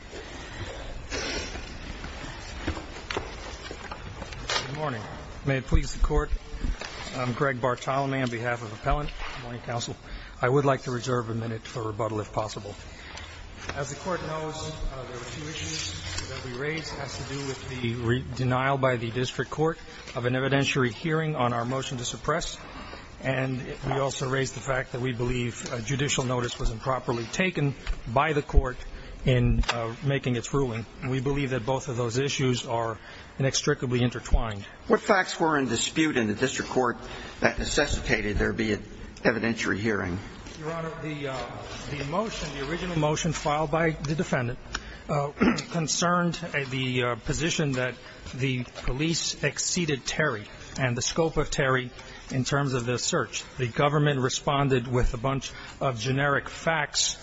Good morning. May it please the court, I'm Greg Bartolome on behalf of Appellant Counsel. I would like to reserve a minute for rebuttal if possible. As the court knows, the issue that we raise has to do with the denial by the district court of an evidentiary hearing on our motion to suppress, and we also raise the fact that we believe a judicial notice was improperly taken by the court in making its ruling. We believe that both of those issues are inextricably intertwined. What facts were in dispute in the district court that necessitated there be an evidentiary hearing? Your Honor, the motion, the original motion filed by the defendant concerned the position that the police exceeded Terry and the scope of Terry in terms of the search. The government responded with a bunch of generic facts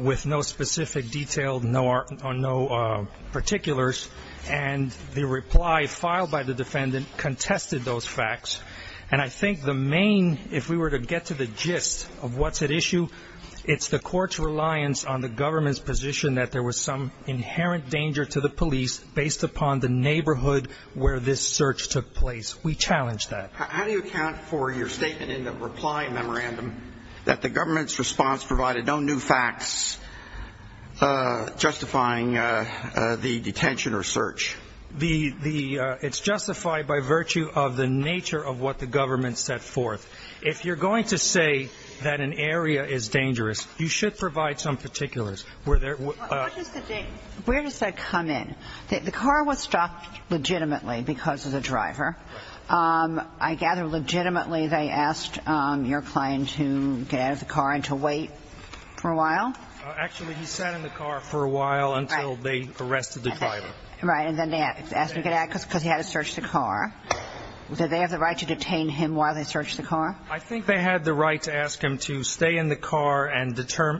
with no specific detail or no particulars, and the reply filed by the defendant contested those facts. And I think the main, if we were to get to the gist of what's at issue, it's the court's reliance on the government's position that there was some inherent danger to the police based upon the neighborhood where this search took place. We challenge that. How do you account for your statement in the reply memorandum that the government's response provided no new facts justifying the detention or search? It's justified by virtue of the nature of what the government set forth. If you're going to say that an area is dangerous, you should provide some particulars. Where does that come in? The car was stopped legitimately because of the driver. I gather legitimately they asked your client to get out of the car and to wait for a while? Actually, he sat in the car for a while until they arrested the driver. Right, and then they asked him to get out because he had to search the car. Did they have the right to detain him while they searched the car? I think they had the right to ask him to stay in the car and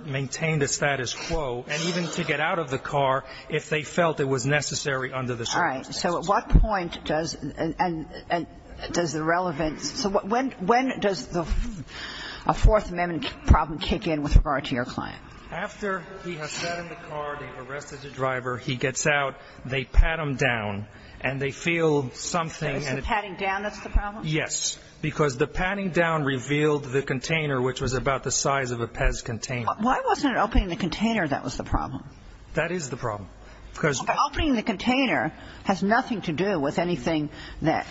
maintain the status quo, and even to get out of the car if they felt it was necessary under the circumstances. All right. So at what point does the relevance So when does the Fourth Amendment problem kick in with regard to your client? After he has sat in the car, they've arrested the driver, he gets out, they pat him down, and they feel something. Is the patting down that's the problem? Yes, because the patting down revealed the container, which was about the size of a PEZ container. Why wasn't it opening the container that was the problem? That is the problem. Because opening the container has nothing to do with anything that,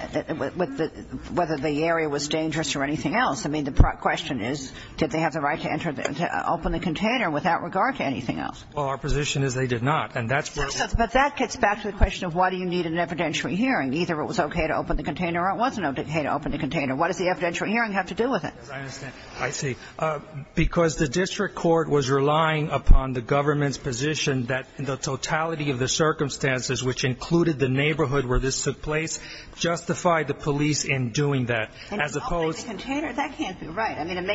whether the area was dangerous or anything else. I mean, the question is, did they have the right to enter, to open the container without regard to anything else? Well, our position is they did not. But that gets back to the question of why do you need an evidentiary hearing. Either it was okay to open the container or it wasn't okay to open the container. What does the evidentiary hearing have to do with it? I understand. I see. Because the district court was relying upon the government's position that the totality of the circumstances, which included the neighborhood where this took place, justified the police in doing that, as opposed to the police And opening the container, that can't be right. I mean, it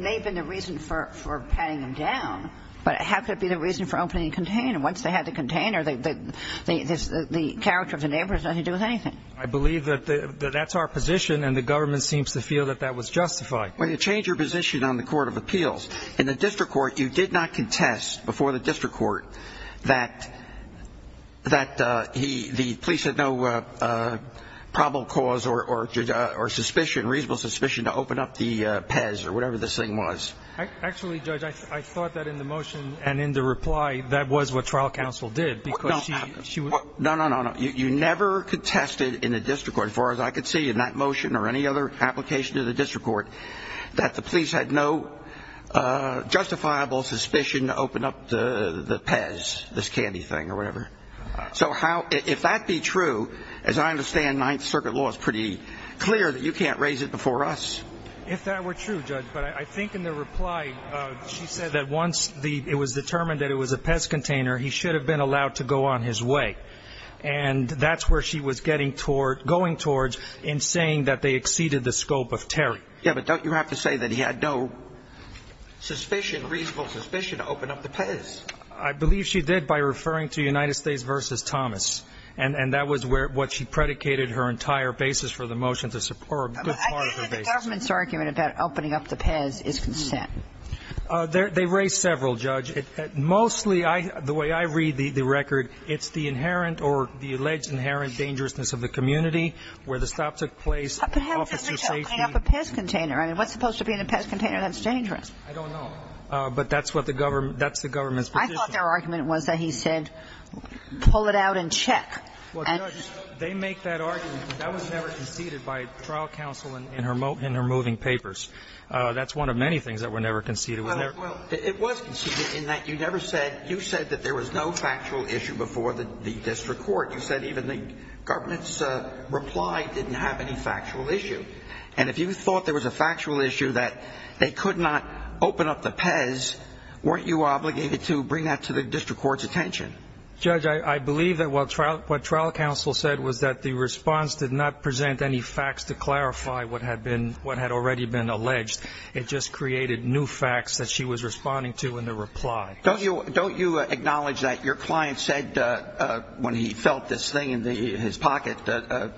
may have been the reason for patting him down, but how could it be the reason for opening the container? Once they had the container, the character of the neighborhood has nothing to do with anything. I believe that that's our position and the government seems to feel that that was justified. When you change your position on the court of appeals in the district court, you did not contest before the district court that that he the police had no probable cause or or or suspicion, reasonable suspicion to open up the Pez or whatever this thing was. Actually, Judge, I thought that in the motion and in the reply, that was what trial counsel did. She was no, no, no, no. You never contested in the district court, as far as I could see in that motion or any other application to the district court, that the police had no justifiable suspicion to open up the Pez, this candy thing or whatever. So how if that be true, as I understand, Ninth Circuit law is pretty clear that you can't raise it before us. If that were true, Judge, but I think in the reply, she said that once it was the Pez, that's where she was going to go on his way, and that's where she was getting toward going towards in saying that they exceeded the scope of Terry. Yeah. But don't you have to say that he had no suspicion, reasonable suspicion to open up the Pez? I believe she did by referring to United States versus Thomas, and that was where what she predicated her entire basis for the motion to support a good part of the government's argument about opening up the Pez is consent. They raised several, Judge. Mostly, the way I read the record, it's the inherent or the alleged inherent dangerousness of the community where the stop took place. But how does that make sense? Opening up a Pez container? I mean, what's supposed to be in a Pez container that's dangerous? I don't know. But that's what the government, that's the government's position. I thought their argument was that he said, pull it out and check. Well, Judge, they make that argument. That was never conceded by trial counsel in her in her moving papers. That's one of many things that were never conceded. Well, it was conceded in that you never said you said that there was no factual issue before the district court. You said even the government's reply didn't have any factual issue. And if you thought there was a factual issue that they could not open up the Pez, weren't you obligated to bring that to the district court's attention? Judge, I believe that what trial what trial counsel said was that the response did not present any facts to clarify what had been what had already been alleged. It just created new facts that she was responding to in the reply. Don't you don't you acknowledge that your client said when he felt this thing in his pocket that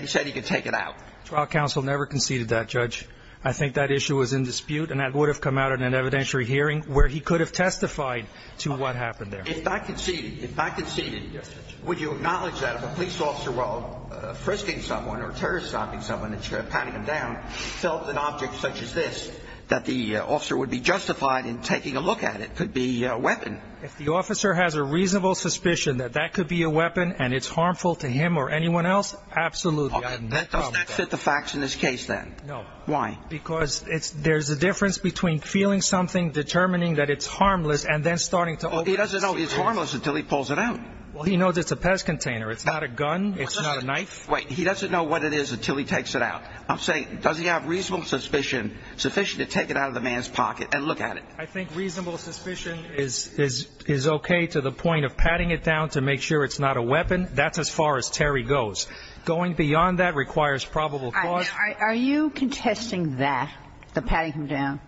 he said he could take it out? Trial counsel never conceded that, Judge. I think that issue was in dispute and that would have come out in an evidentiary hearing where he could have testified to what happened there. If not conceded, if not conceded, would you acknowledge that if a police officer while frisking someone or terrorist stopping someone that you're patting him down, tells an object such as this, that the officer would be justified in taking a look at it could be a weapon. If the officer has a reasonable suspicion that that could be a weapon and it's harmful to him or anyone else. Absolutely. Does that fit the facts in this case then? No. Why? Because it's there's a difference between feeling something, determining that it's harmless and then starting to. Well, he doesn't know it's harmless until he pulls it out. Well, he knows it's a pest container. It's not a gun. It's not a knife. Wait. He doesn't know what it is until he takes it out. I'm saying, does he have reasonable suspicion sufficient to take it out of the man's pocket and look at it? I think reasonable suspicion is, is, is okay to the point of patting it down to make sure it's not a weapon. That's as far as Terry goes. Going beyond that requires probable cause. Are you contesting that the patting him down?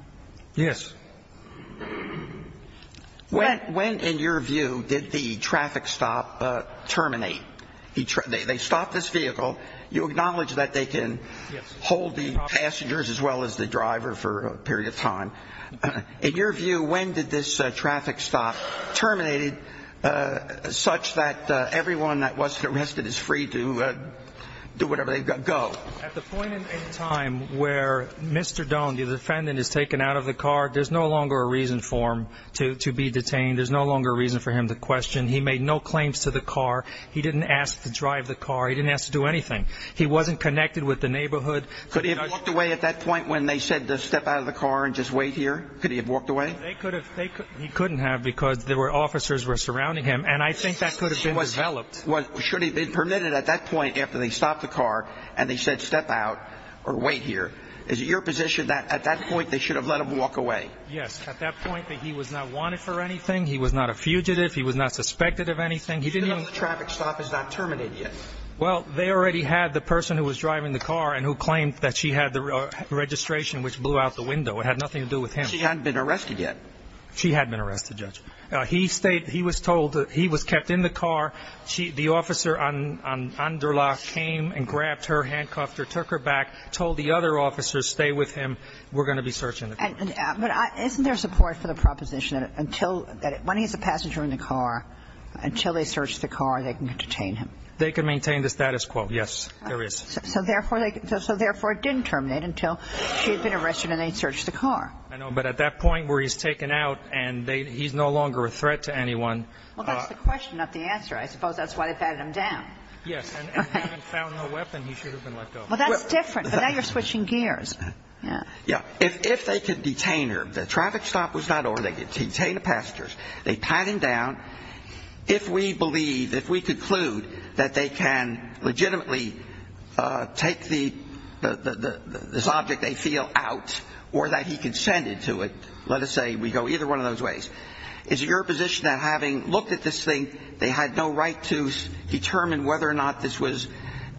Yes. When, when, in your view, did the traffic stop, uh, terminate each day they stopped this vehicle. You acknowledge that they can hold the passengers as well as the driver for a period of time in your view, when did this traffic stop terminated, uh, such that, uh, everyone that wasn't arrested is free to, uh, do whatever they've got to go. At the point in time where Mr. Doan, the defendant is taken out of the car. There's no longer a reason for him to, to be detained. There's no longer a reason for him to question. He made no claims to the car. He didn't ask to drive the car. He didn't ask to do anything. He wasn't connected with the neighborhood. Could he have walked away at that point when they said to step out of the car and just wait here? Could he have walked away? They could have, they could, he couldn't have, because there were officers were surrounding him. And I think that could have been developed. Was, should he have been permitted at that point after they stopped the car and they said, step out or wait here. Is it your position that at that point they should have let him walk away? Yes. At that point that he was not wanted for anything. He was not a fugitive. He was not suspected of anything. He didn't know the traffic stop is not terminated yet. Well, they already had the person who was driving the car and who claimed that she had the registration, which blew out the window. It had nothing to do with him. She hadn't been arrested yet. She had been arrested. Judge, uh, he stayed, he was told that he was kept in the car. She, the officer on, on under lock came and grabbed her handcuffed or took her back, told the other officers, stay with him. We're going to be searching. But isn't there support for the proposition that until that, when he's a passenger in the car, until they searched the car, they can detain him. They can maintain the status quo. Yes, there is. So, so therefore they, so therefore it didn't terminate until she had been arrested and they searched the car. I know. But at that point where he's taken out and they, he's no longer a threat to anyone. Well, that's the question, not the answer. I suppose that's why they batted him down. Yes. And we haven't found no weapon. He should have been let go. Well, that's different, but now you're switching gears. Yeah. Yeah. If, if they could detain her, the traffic stop was not over. They could detain the passengers. They pat him down. If we believe, if we conclude that they can legitimately, uh, take the, the, the, this object they feel out or that he consented to it, let us say we go either one of those ways. Is it your position that having looked at this thing, they had no right to determine whether or not this was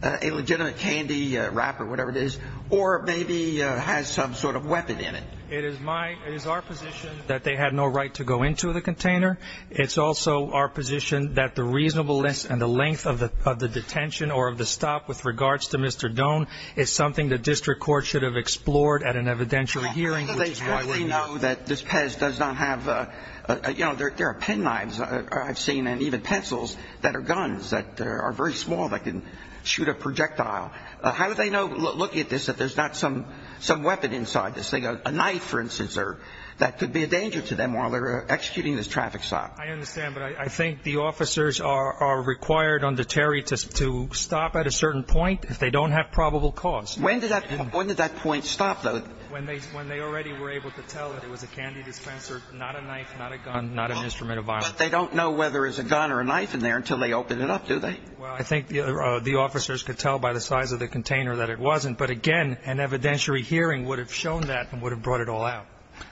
a legitimate candy wrap or whatever it is, or maybe, uh, has some sort of weapon in it. It is my, it is our position that they had no right to go into the container. It's also our position that the reasonableness and the length of the, of the detention or of the stop with regards to Mr. Doan is something that district court should have explored at an evidentiary hearing, which is why we know that this Pez does not have a, a, you know, there, there are pen knives I've seen, and even pencils that are guns that are very small. That didn't shoot a projectile. Uh, how did they know looking at this, that there's not some, some weapon inside this thing, a knife for instance, or that could be a danger to them while they're executing this traffic stop. I understand. But I think the officers are, are required under Terry to, to stop at a certain point if they don't have probable cause. When did that, when did that point stop though? When they, when they already were able to tell that it was a candy dispenser, not a They don't know whether it's a gun or a knife in there until they open it up. Do they? Well, I think the, uh, the officers could tell by the size of the container that it wasn't, but again, an evidentiary hearing would have shown that and would have brought it all out.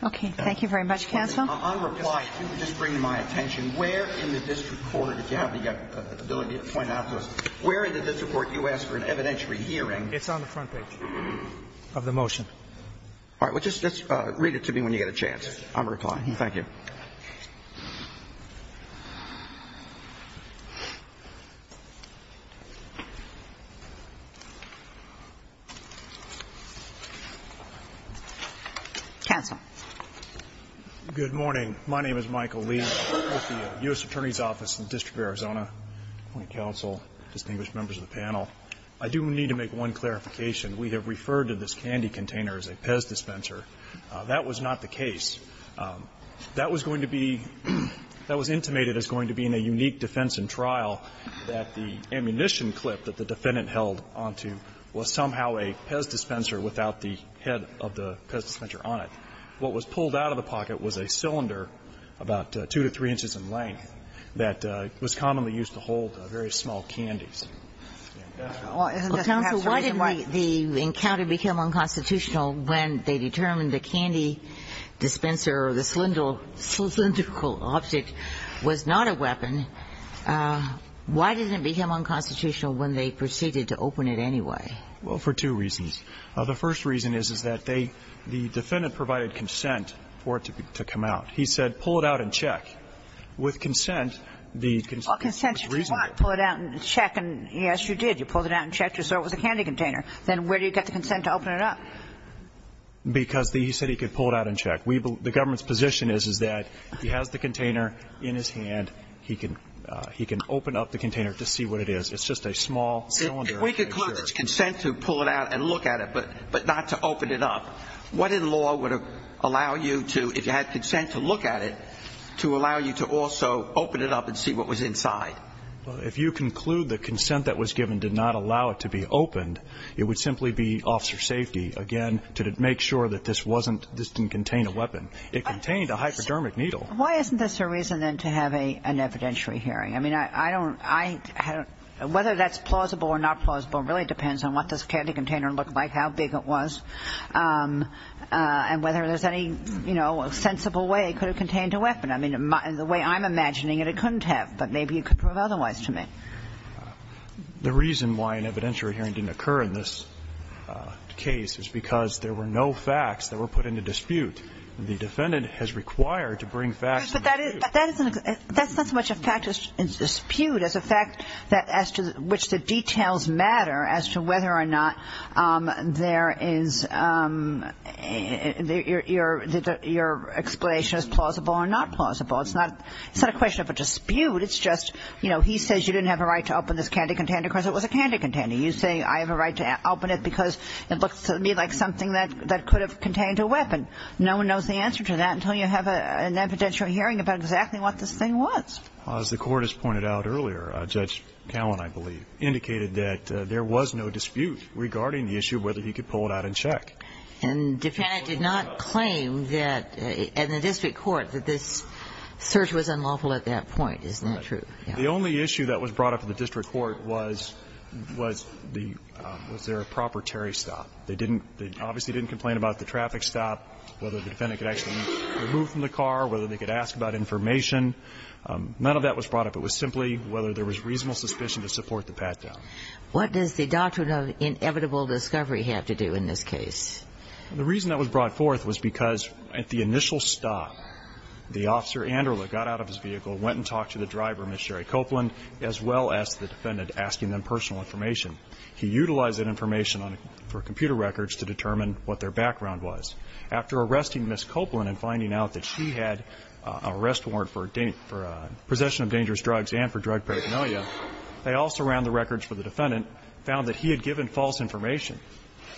Okay. Thank you very much. Counsel. I'm replying to just bring my attention. Where in the district court, if you have the ability to point out to us where the district court, you asked for an evidentiary hearing. It's on the front page of the motion. All right. Well, just, just read it to me when you get a chance. I'm replying. Thank you. Okay. Counsel. Good morning. My name is Michael Lee with the U.S. attorney's office in the district of Arizona. When counsel distinguished members of the panel, I do need to make one clarification. We have referred to this candy container as a PEZ dispenser. Uh, that was not the case. Um, that was going to be, that was intimated as going to be in a unique defense and trial that the ammunition clip that the defendant held onto was somehow a PEZ dispenser without the head of the PEZ dispenser on it. What was pulled out of the pocket was a cylinder about two to three inches in length that, uh, was commonly used to hold a very small candies. Well, counsel, why didn't the encounter become unconstitutional when they determined the candy dispenser or the cylindrical object was not a weapon? Uh, why didn't it become unconstitutional when they proceeded to open it anyway? Well, for two reasons. Uh, the first reason is, is that they, the defendant provided consent for it to come out. He said, pull it out and check. With consent, the consent was reasonable. Pull it out and check. And yes, you did. You pulled it out and checked. You saw it was a candy container. Then where do you get the consent to open it up? Because the, he said he could pull it out and check. We, the government's position is, is that he has the container in his hand. He can, uh, he can open up the container to see what it is. It's just a small cylinder. If we conclude there's consent to pull it out and look at it, but, but not to open it up, what in law would allow you to, if you had consent to look at it, to allow you to also open it up and see what was inside? Well, if you conclude the consent that was given did not allow it to be opened, it would allow, again, to make sure that this wasn't, this didn't contain a weapon. It contained a hypodermic needle. Why isn't this a reason then to have a, an evidentiary hearing? I mean, I, I don't, I don't, whether that's plausible or not plausible really depends on what this candy container looked like, how big it was, um, uh, and whether there's any, you know, sensible way it could have contained a weapon. I mean, the way I'm imagining it, it couldn't have, but maybe it could prove otherwise to me. The reason why an evidentiary hearing didn't occur in this case is because there were no facts that were put into dispute. The defendant has required to bring facts into dispute. But that is, that's not so much a fact, a dispute, as a fact that as to which the details matter as to whether or not, um, there is, um, your, your, your explanation is plausible or not plausible. It's not, it's not a question of a dispute, it's just, you know, he says you didn't have a right to open this candy container because it was a candy container. You say I have a right to open it because it looks to me like something that, that could have contained a weapon. No one knows the answer to that until you have a, an evidentiary hearing about exactly what this thing was. As the court has pointed out earlier, Judge Cowan, I believe, indicated that, uh, there was no dispute regarding the issue of whether he could pull it out and check. And defendant did not claim that, uh, in the district court that this search was unlawful at that point, isn't that true? The only issue that was brought up in the district court was, was the, um, was there a proper Terry stop? They didn't, they obviously didn't complain about the traffic stop, whether the defendant could actually move from the car, whether they could ask about information. Um, none of that was brought up. It was simply whether there was reasonable suspicion to support the pat down. What does the doctrine of inevitable discovery have to do in this case? The reason that was brought forth was because at the initial stop, the officer Anderla got out of his vehicle, went and talked to the driver, Ms. Sherry Copeland, as well as the defendant asking them personal information. He utilized that information on, for computer records to determine what their background was after arresting Ms. Copeland and finding out that she had a rest warrant for a date for a possession of dangerous drugs and for drug paraphernalia. They also ran the records for the defendant, found that he had given false information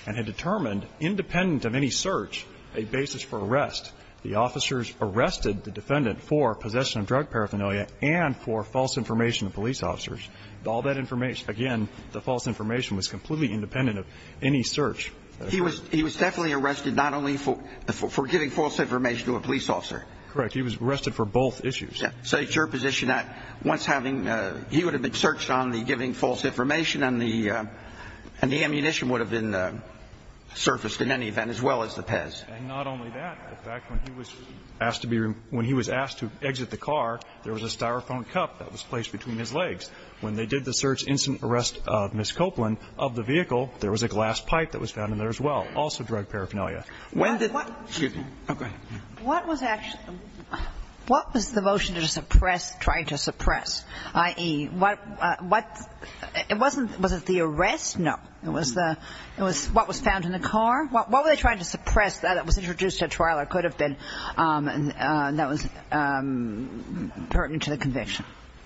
and had determined independent of any search, a basis for arrest. The officers arrested the defendant for possession of drug paraphernalia and for false information of police officers. All that information, again, the false information was completely independent of any search. He was, he was definitely arrested not only for, for giving false information to a police officer. Correct. He was arrested for both issues. So it's your position that once having, uh, he would have been searched on the giving false information on the, uh, and the ammunition would have been, uh, surfaced in any event as well as the Pez. And not only that, in fact, when he was asked to be, when he was asked to exit the car, there was a Styrofoam cup that was placed between his legs. When they did the search, instant arrest of Ms. Copeland, of the vehicle, there was a glass pipe that was found in there as well, also drug paraphernalia. When did the, what, excuse me, oh, go ahead. What was actually, what was the motion to suppress, trying to suppress? I.e., what, what, it wasn't, was it the arrest? No. It was the, it was what was found in the car? What, what were they trying to suppress that was introduced at trial or could have been, um, uh, that was, um, pertinent to the conviction?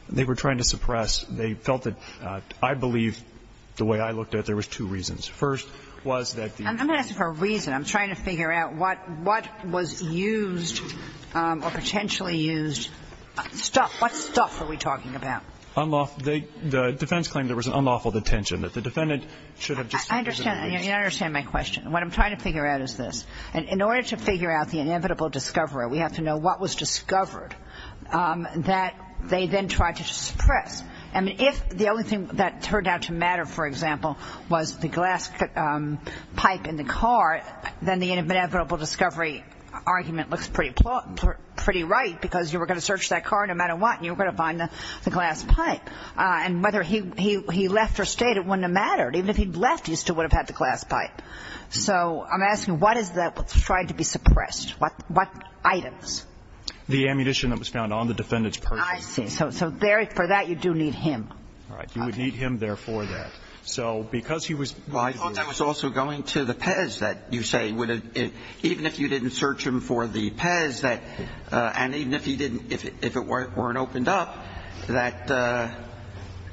They were trying to suppress. They felt that, uh, I believe the way I looked at it, there was two reasons. First was that the. I'm going to ask you for a reason. I'm trying to figure out what, what was used, um, or potentially used stuff. What stuff are we talking about? Unlawful. They, the defense claimed there was an unlawful detention that the defendant should have just. I understand that. You understand my question. What I'm trying to figure out is this, and in order to figure out the inevitable discovery, we have to know what was discovered, um, that they then tried to suppress, I mean, if the only thing that turned out to matter, for example, was the glass, um, pipe in the car, then the inevitable discovery argument looks pretty, pretty right because you were going to search that car no matter what, and you were going to find the glass pipe. Uh, and whether he, he, he left or stayed, it wouldn't have mattered. Even if he'd left, he still would have had the glass pipe. So I'm asking, what is that what's tried to be suppressed? What, what items? The ammunition that was found on the defendant's purse. I see. So, so there, for that, you do need him. Right. You would need him there for that. So because he was. Well, I thought that was also going to the Pez that you say would have, even if you didn't search him for the Pez that, uh, and even if he didn't, if it weren't opened up, that, uh,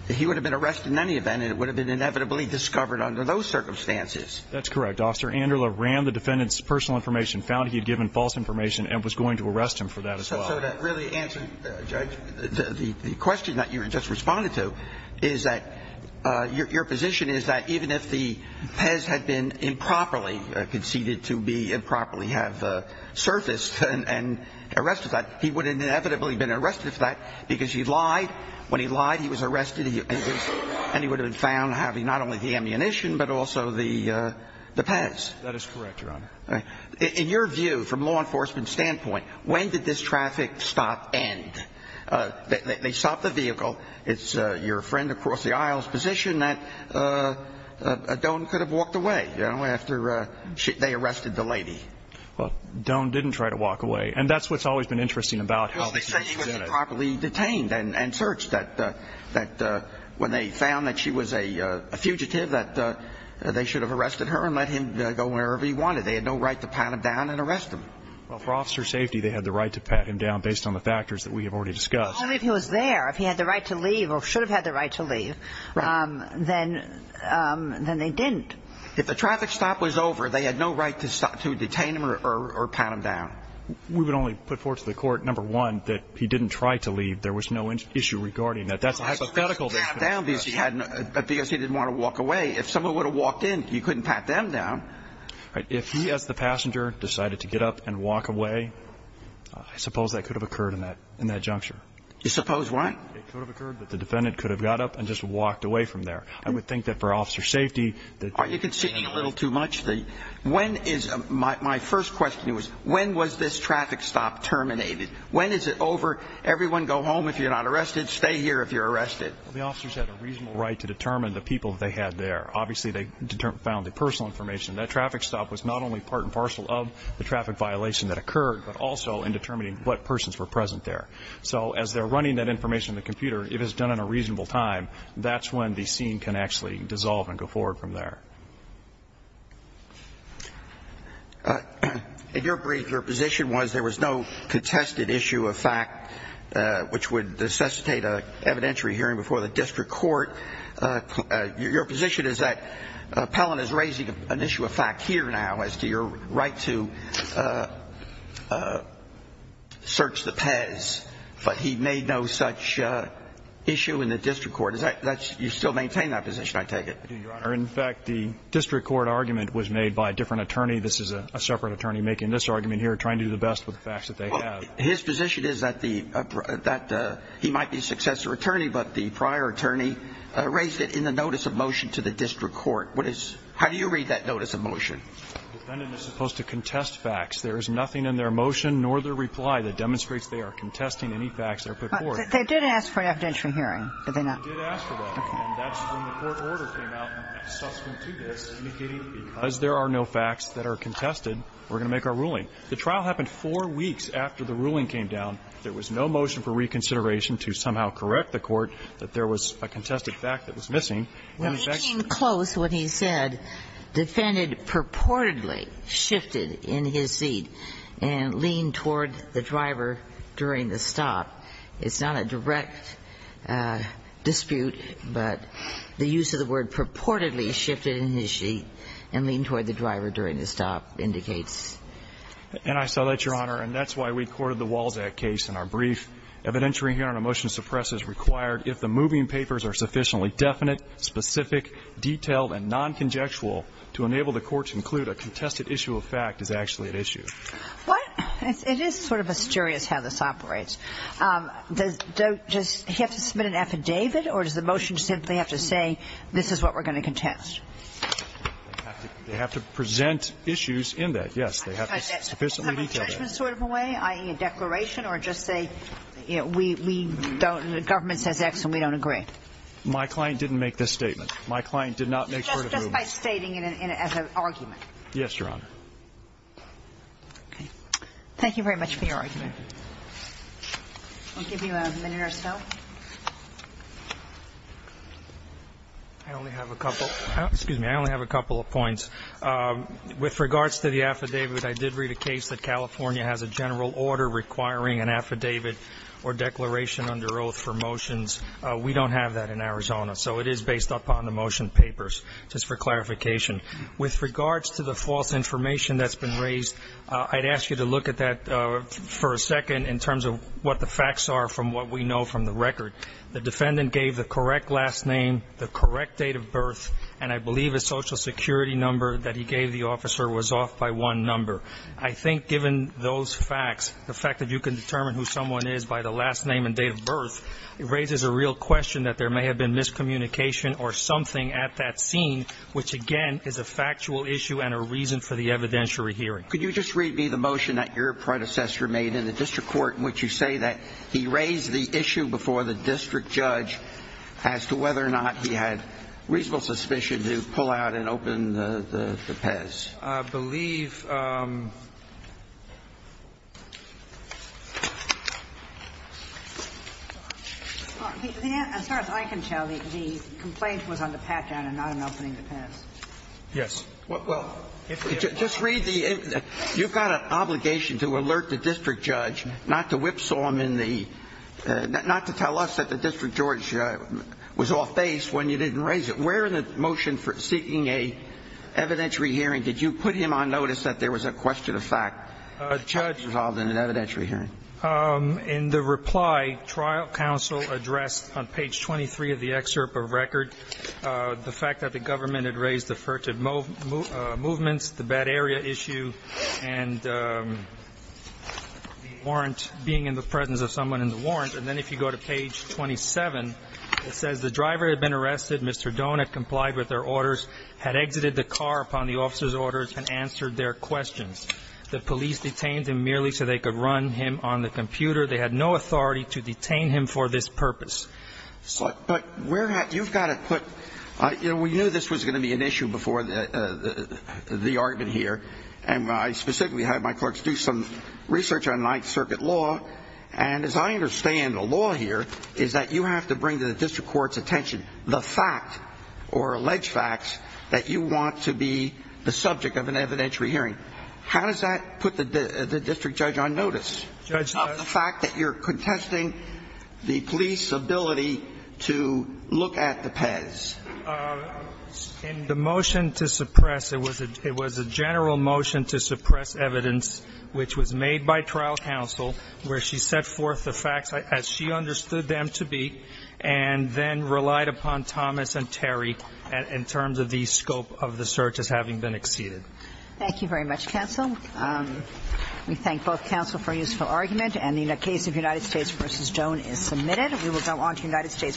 he would have been arrested in any event and it would have been inevitably discovered under those circumstances. That's correct. Officer. Angela ran the defendant's personal information, found he had given false information and was going to arrest him for that as well. So that really answered the question that you just responded to is that, uh, your, your position is that even if the Pez had been improperly conceded to be improperly have, uh, surfaced and arrested that he would have inevitably been arrested for that because he lied when he lied, he was arrested and he would have been found having not only the ammunition, but also the, uh, the Pez. That is correct. Your honor. In your view, from law enforcement standpoint, when did this traffic stop and, uh, they, they, they stopped the vehicle. It's, uh, your friend across the aisles position that, uh, uh, uh, don't could have walked away, you know, after, uh, they arrested the lady. Well, don't, didn't try to walk away. And that's, what's always been interesting about how they say he wasn't found that she was a fugitive that, uh, they should have arrested her and let him go wherever he wanted. They had no right to pat him down and arrest him. Well, for officer safety, they had the right to pat him down based on the factors that we have already discussed. Only if he was there, if he had the right to leave or should have had the right to leave, um, then, um, then they didn't. If the traffic stop was over, they had no right to stop to detain him or, or, or pat him down. We would only put forth to the court. Number one, that he didn't try to leave. There was no issue regarding that. That's a hypothetical down because he hadn't, because he didn't want to walk away. If someone would have walked in, you couldn't pat them down, right? If he, as the passenger decided to get up and walk away, I suppose that could have occurred in that, in that juncture, you suppose what could have occurred, but the defendant could have got up and just walked away from there. I would think that for officer safety, you can see a little too much. The when is my, my first question was when was this traffic stop terminated? When is it over? Everyone go home. If you're not arrested, stay here. If you're arrested, the officers had a reasonable right to determine the people that they had there. Obviously they found the personal information. That traffic stop was not only part and parcel of the traffic violation that occurred, but also in determining what persons were present there. So as they're running that information in the computer, it has done in a reasonable time. That's when the scene can actually dissolve and go forward from there. In your brief, your position was there was no contested issue of fact, which would necessitate a evidentiary hearing before the district court. Your position is that Pellon is raising an issue of fact here now as to your right to search the Pez, but he made no such issue in the district court. Is that that's you still maintain that position? I take it. In fact, the district court argument was made by a different attorney. This is a separate attorney making this argument here, trying to do the best with the facts that they have. His position is that the, that he might be successor attorney, but the prior attorney raised it in the notice of motion to the district court. What is, how do you read that notice of motion? Defendant is supposed to contest facts. There is nothing in their motion, nor the reply that demonstrates they are contesting any facts that are put forward. They did ask for an evidentiary hearing, did they not? They did ask for that, and that's when the court order came out, subsequent to this, indicating because there are no facts that are contested, we're going to make our ruling. The trial happened four weeks after the ruling came down. There was no motion for reconsideration to somehow correct the court that there was a contested fact that was missing. And in fact, the court ordered a hearing. Well, he came close when he said, defended purportedly shifted in his seat and leaned toward the driver during the stop. It's not a direct dispute, but the use of the word purportedly shifted in his seat and leaned toward the driver during the stop indicates. And I saw that, Your Honor. And that's why we courted the Walzak case in our brief. Evidentiary hearing on a motion to suppress is required if the moving papers are sufficiently definite, specific, detailed, and non-conjectual to enable the court to conclude a contested issue of fact is actually at issue. Well, it is sort of mysterious how this operates. Does he have to submit an affidavit or does the motion simply have to say, this is what we're going to contest? They have to present issues in that. Yes. They have to sufficiently detail that. A judgment sort of a way, i.e. a declaration or just say, you know, we don't, the government says X and we don't agree. My client didn't make this statement. My client did not make sure. Just by stating it as an argument. Yes, Your Honor. Thank you very much for your argument. We'll give you a minute or so. I only have a couple. Excuse me. I only have a couple of points. With regards to the affidavit, I did read a case that California has a general order requiring an affidavit or declaration under oath for motions. We don't have that in Arizona. So it is based upon the motion papers, just for clarification. With regards to the false information that's been raised, I'd ask you to look at that for a second in terms of what the facts are from what we know from the record. The defendant gave the correct last name, the correct date of birth, and I believe a social security number that he gave the officer was off by one number. I think given those facts, the fact that you can determine who someone is by the last name and date of birth, it raises a real question that there may have been miscommunication or something at that scene, which again is a factual issue and a reason for the evidentiary hearing. Could you just read me the motion that your predecessor made in the district court in which you say that he raised the issue before the district judge as to whether or not he had reasonable suspicion to pull out and open the PEZ? I believe. As far as I can tell, the complaint was on the pat-down and not on opening the PEZ. Yes. Well, just read the you've got an obligation to alert the district judge not to whipsaw him in the not to tell us that the district judge was off base when you didn't raise it. Where in the motion for seeking a evidentiary hearing did you put him on notice that there was a question of fact resolved in an evidentiary hearing? In the reply, trial counsel addressed on page 23 of the excerpt of record the fact that the government had raised the furtive movements, the bad area issue, and the warrant, being in the presence of someone in the warrant. And then if you go to page 27, it says the driver had been arrested, Mr. Doan had complied with their orders, had exited the car upon the officer's orders, and answered their questions. The police detained him merely so they could run him on the computer. They had no authority to detain him for this purpose. But you've got to put, you know, we knew this was going to be an issue before the argument here, and I specifically had my clerks do some research on Ninth Circuit law, and as I understand the law here is that you have to bring to the district court's attention the fact, or alleged facts, that you want to be the subject of an evidentiary hearing. How does that put the district judge on notice of the fact that you're contesting the police's ability to look at the PES? In the motion to suppress, it was a general motion to suppress evidence which was made by trial counsel where she set forth the facts as she understood them to be, and then relied upon Thomas and Terry in terms of the scope of the search as having been exceeded. Thank you very much, counsel. We thank both counsel for a useful argument, and the case of United States v. Stone is submitted. We will go on to United States v. Wren.